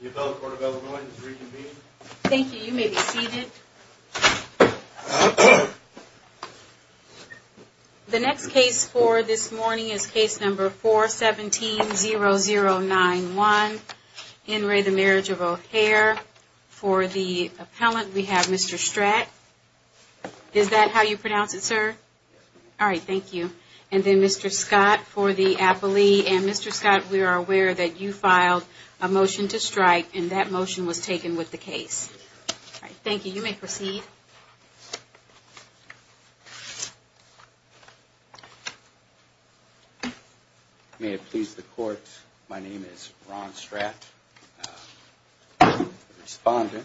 The Appellate Court of Elements is reconvened. Thank you. You may be seated. The next case for this morning is case number 417-0091. In re The Marriage of O'Hare, for the appellant we have Mr. Stradt. Is that how you pronounce it, sir? Yes, ma'am. All right, thank you. And then Mr. Scott for the appellee. And Mr. Scott, we are aware that you filed a motion to strike and that motion was taken with the case. Thank you. You may proceed. May it please the court, my name is Ron Stradt, the respondent.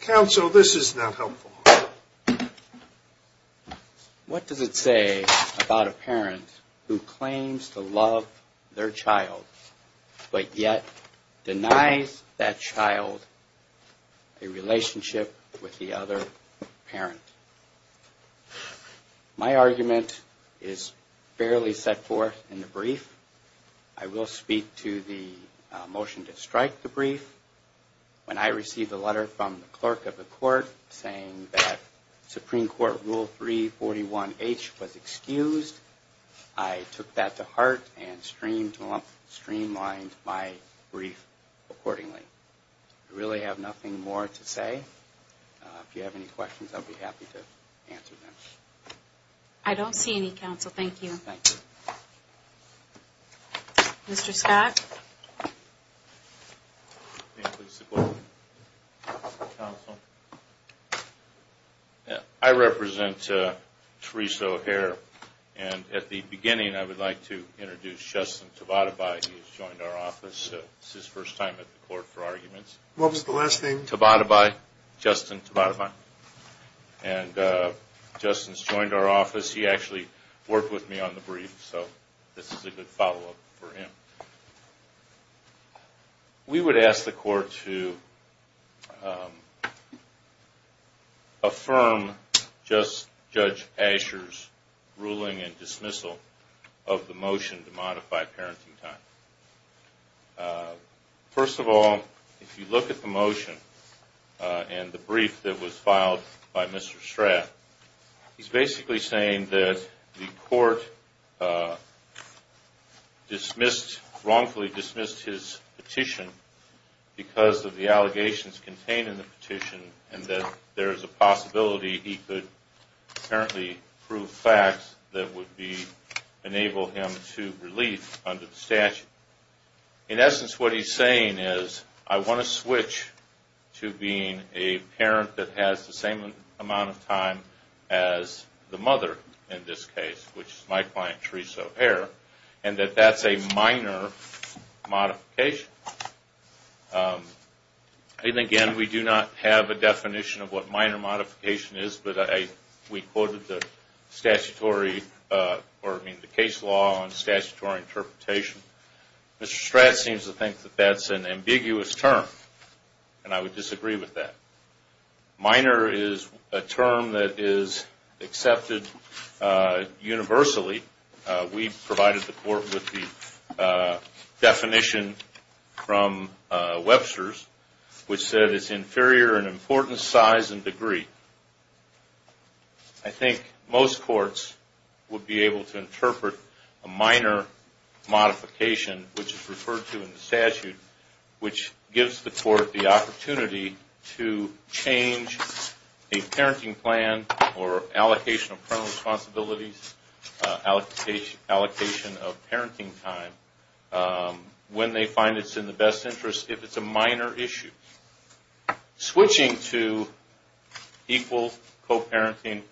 Counsel, this is not helpful. What does it say about a parent who claims to love their child but yet denies that child a relationship with the other parent? My argument is fairly set forth in the brief. I will speak to the motion to strike the brief. When I received a letter from the clerk of the court saying that Supreme Court Rule 341H was excused, I took that to heart and streamlined my brief accordingly. I really have nothing more to say. If you have any questions, I'll be happy to answer them. I don't see any, counsel. Thank you. Thank you. Mr. Scott. I represent Teresa O'Hare. And at the beginning, I would like to introduce Justin Tabatabai. He has joined our office. This is his first time at the court for arguments. What was the last name? Tabatabai, Justin Tabatabai. And Justin's joined our office. He actually worked with me on the brief, so this is a good follow-up for him. We would ask the court to affirm Judge Asher's ruling and dismissal of the motion to modify parenting time. First of all, if you look at the motion and the brief that was filed by Mr. Strath, he's basically saying that the court wrongfully dismissed his petition because of the allegations contained in the petition and that there is a possibility he could apparently prove facts that would enable him to relief under the statute. In essence, what he's saying is, I want to switch to being a parent that has the same amount of time as the mother in this case, which is my client, Teresa O'Hare, and that that's a minor modification. And again, we do not have a definition of what minor modification is, but we quoted the case law and statutory interpretation. Mr. Strath seems to think that that's an ambiguous term, and I would disagree with that. Minor is a term that is accepted universally. We provided the court with the definition from Webster's, which said it's inferior in importance, size, and degree. I think most courts would be able to interpret a minor modification, which is referred to in the statute, which gives the court the opportunity to change a parenting plan or allocation of parental responsibilities, allocation of parenting time, when they find it's in the best interest if it's a minor issue. Switching to equal co-parenting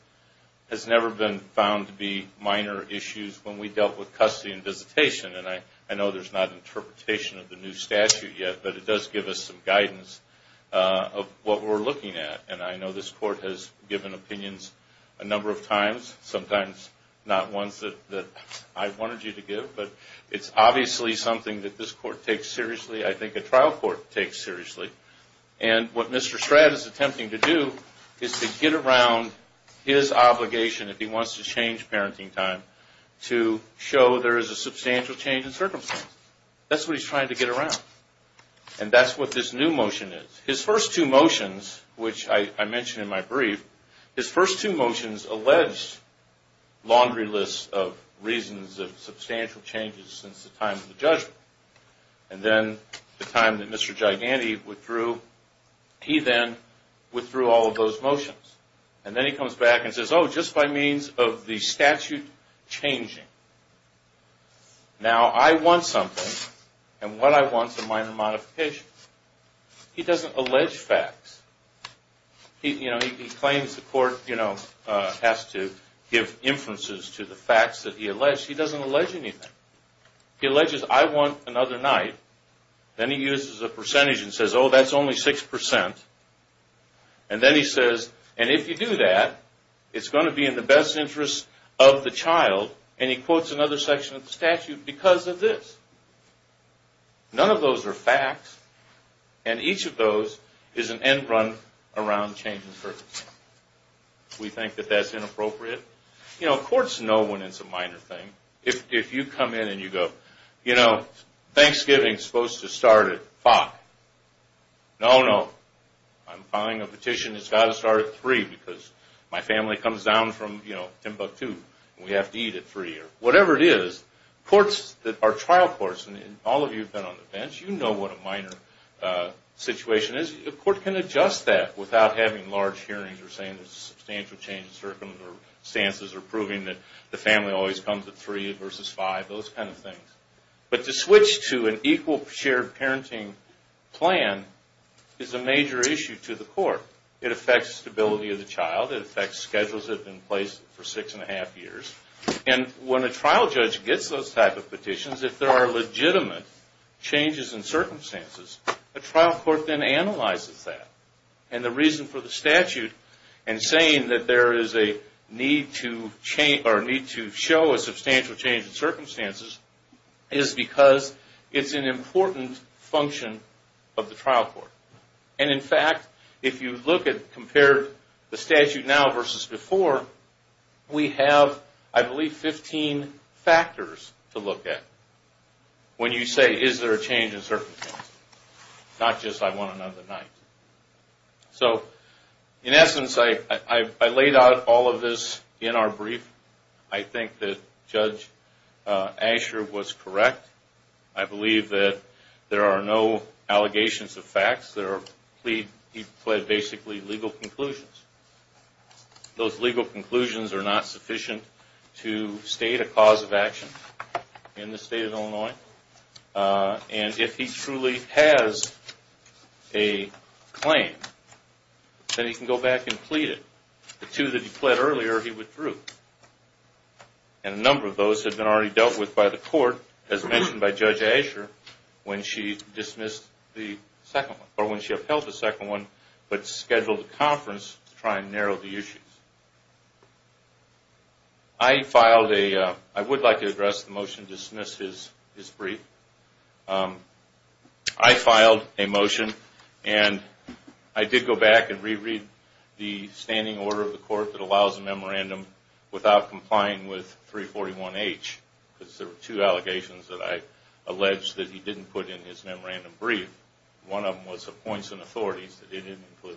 has never been found to be minor issues when we dealt with custody and visitation. And I know there's not interpretation of the new statute yet, but it does give us some guidance of what we're looking at. And I know this court has given opinions a number of times, sometimes not ones that I wanted you to give, but it's obviously something that this court takes seriously. I think a trial court takes seriously. And what Mr. Stratt is attempting to do is to get around his obligation, if he wants to change parenting time, to show there is a substantial change in circumstance. That's what he's trying to get around. And that's what this new motion is. His first two motions, which I mentioned in my brief, his first two motions alleged laundry lists of reasons of substantial changes since the time of the judgment. And then the time that Mr. Giganti withdrew, he then withdrew all of those motions. And then he comes back and says, oh, just by means of the statute changing. Now I want something, and what I want is a minor modification. He doesn't allege facts. He claims the court has to give inferences to the facts that he alleged. He doesn't allege anything. He alleges, I want another night. Then he uses a percentage and says, oh, that's only 6%. And then he says, and if you do that, it's going to be in the best interest of the child. And he quotes another section of the statute because of this. None of those are facts, and each of those is an end run around change in circumstance. We think that that's inappropriate. You know, courts know when it's a minor thing. If you come in and you go, you know, Thanksgiving is supposed to start at 5. No, no. I'm filing a petition that's got to start at 3 because my family comes down from Timbuktu, and we have to eat at 3 or whatever it is. Courts that are trial courts, and all of you have been on the bench, you know what a minor situation is. The court can adjust that without having large hearings or saying there's a substantial change in circumstances or proving that the family always comes at 3 versus 5, those kind of things. But to switch to an equal shared parenting plan is a major issue to the court. It affects stability of the child. It affects schedules that have been placed for 6 1⁄2 years. And when a trial judge gets those type of petitions, if there are legitimate changes in circumstances, a trial court then analyzes that. And the reason for the statute and saying that there is a need to show a substantial change in circumstances is because it's an important function of the trial court. And in fact, if you look at and compare the statute now versus before, we have, I believe, 15 factors to look at when you say is there a change in circumstances, not just I want another night. So in essence, I laid out all of this in our brief. I think that Judge Asher was correct. I believe that there are no allegations of facts. He pled basically legal conclusions. Those legal conclusions are not sufficient to state a cause of action in the state of Illinois. And if he truly has a claim, then he can go back and plead it. The two that he pled earlier, he withdrew. And a number of those have been already dealt with by the court, as mentioned by Judge Asher, when she dismissed the second one or when she upheld the second one but scheduled a conference to try and narrow the issues. I filed a – I would like to address the motion to dismiss his brief. I filed a motion, and I did go back and re-read the standing order of the court that allows a memorandum without complying with 341H, because there were two allegations that I alleged that he didn't put in his memorandum brief. One of them was appoints and authorities that he didn't include.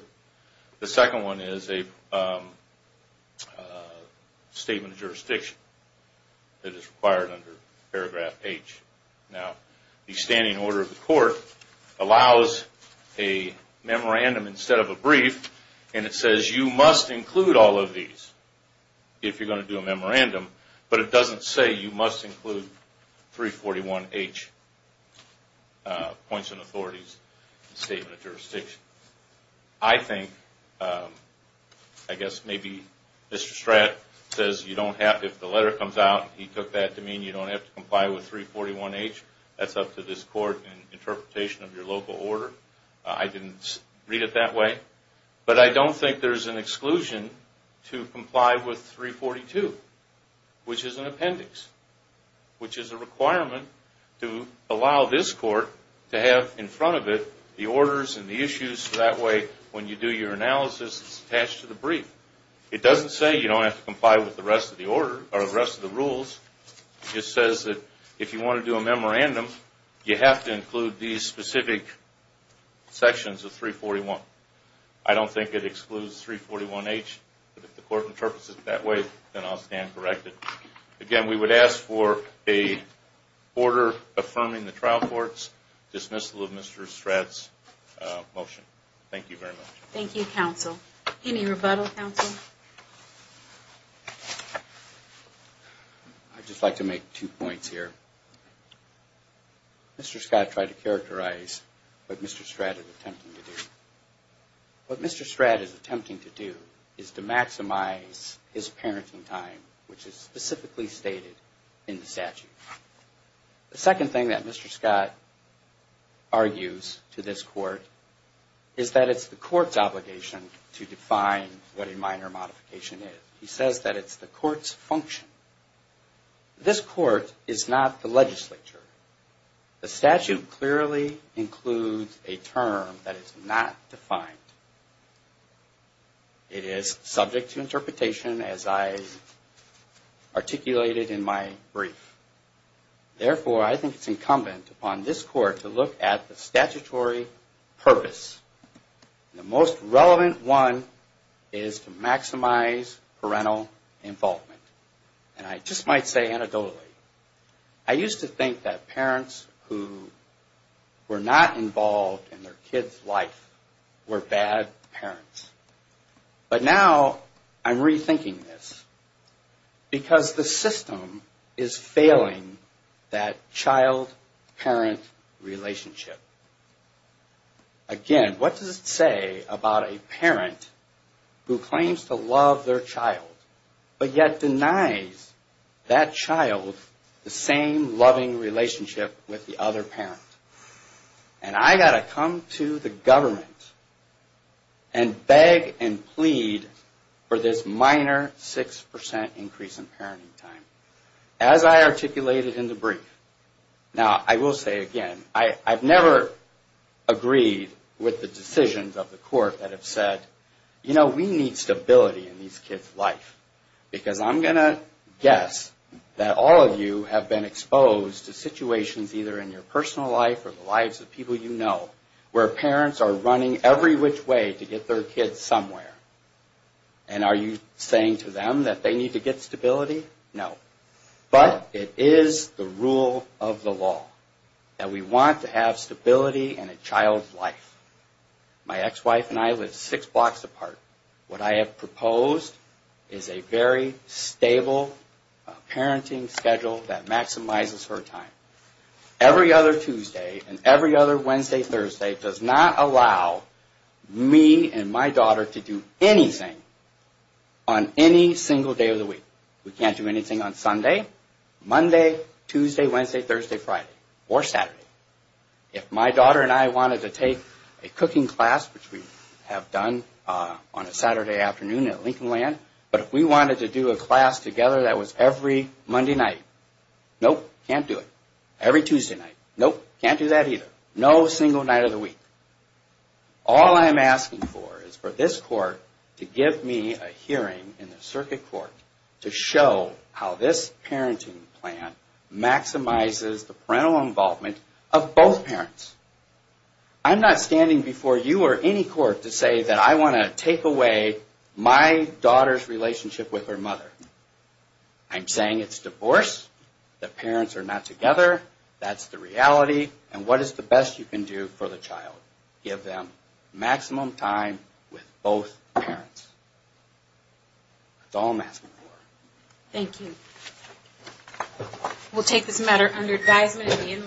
The second one is a statement of jurisdiction that is required under paragraph H. Now, the standing order of the court allows a memorandum instead of a brief, and it says you must include all of these if you're going to do a memorandum, but it doesn't say you must include 341H, appoints and authorities, and statement of jurisdiction. I think – I guess maybe Mr. Stratt says you don't have – if the letter comes out, he took that to mean you don't have to comply with 341H. That's up to this court in interpretation of your local order. I didn't read it that way, but I don't think there's an exclusion to comply with 342, which is an appendix, which is a requirement to allow this court to have in front of it the orders and the issues so that way when you do your analysis, it's attached to the brief. It doesn't say you don't have to comply with the rest of the order or the rest of the rules. It just says that if you want to do a memorandum, you have to include these specific sections of 341. I don't think it excludes 341H, but if the court interprets it that way, then I'll stand corrected. Again, we would ask for an order affirming the trial court's dismissal of Mr. Stratt's motion. Thank you very much. Thank you, counsel. Any rebuttal, counsel? I'd just like to make two points here. Mr. Stratt tried to characterize what Mr. Stratt is attempting to do. What Mr. Stratt is attempting to do is to maximize his parenting time, which is specifically stated in the statute. The second thing that Mr. Scott argues to this court is that it's the court's obligation to define what a minor modification is. He says that it's the court's function. This court is not the legislature. The statute clearly includes a term that is not defined. It is subject to interpretation, as I articulated in my brief. Therefore, I think it's incumbent upon this court to look at the statutory purpose. The most relevant one is to maximize parental involvement. And I just might say anecdotally, I used to think that parents who were not involved in their kids' life were bad parents. But now I'm rethinking this, because the system is failing that child-parent relationship. Again, what does it say about a parent who claims to love their child, but yet denies that child the same loving relationship with the other parent? And I've got to come to the government and beg and plead for this minor 6% increase in parenting time, as I articulated in the brief. Now, I will say again, I've never agreed with the decisions of the court that have said, you know, we need stability in these kids' life. Because I'm going to guess that all of you have been exposed to situations either in your personal life or the lives of people you know, where parents are running every which way to get their kids somewhere. And are you saying to them that they need to get stability? No. But it is the rule of the law that we want to have stability in a child's life. My ex-wife and I live six blocks apart. What I have proposed is a very stable parenting schedule that maximizes her time. Every other Tuesday and every other Wednesday, Thursday does not allow me and my daughter to do anything on any single day of the week. We can't do anything on Sunday, Monday, Tuesday, Wednesday, Thursday, Friday, or Saturday. If my daughter and I wanted to take a cooking class, which we have done on a Saturday afternoon at Lincoln Land, but if we wanted to do a class together that was every Monday night, nope, can't do it. Every Tuesday night, nope, can't do that either. No single night of the week. All I'm asking for is for this court to give me a hearing in the circuit court to show how this parenting plan maximizes the parental involvement of both parents. I'm not standing before you or any court to say that I want to take away my daughter's relationship with her mother. I'm saying it's divorce, the parents are not together, that's the reality, and what is the best you can do for the child. Give them maximum time with both parents. That's all I'm asking for. Thank you. We'll take this matter under advisement and be in recess.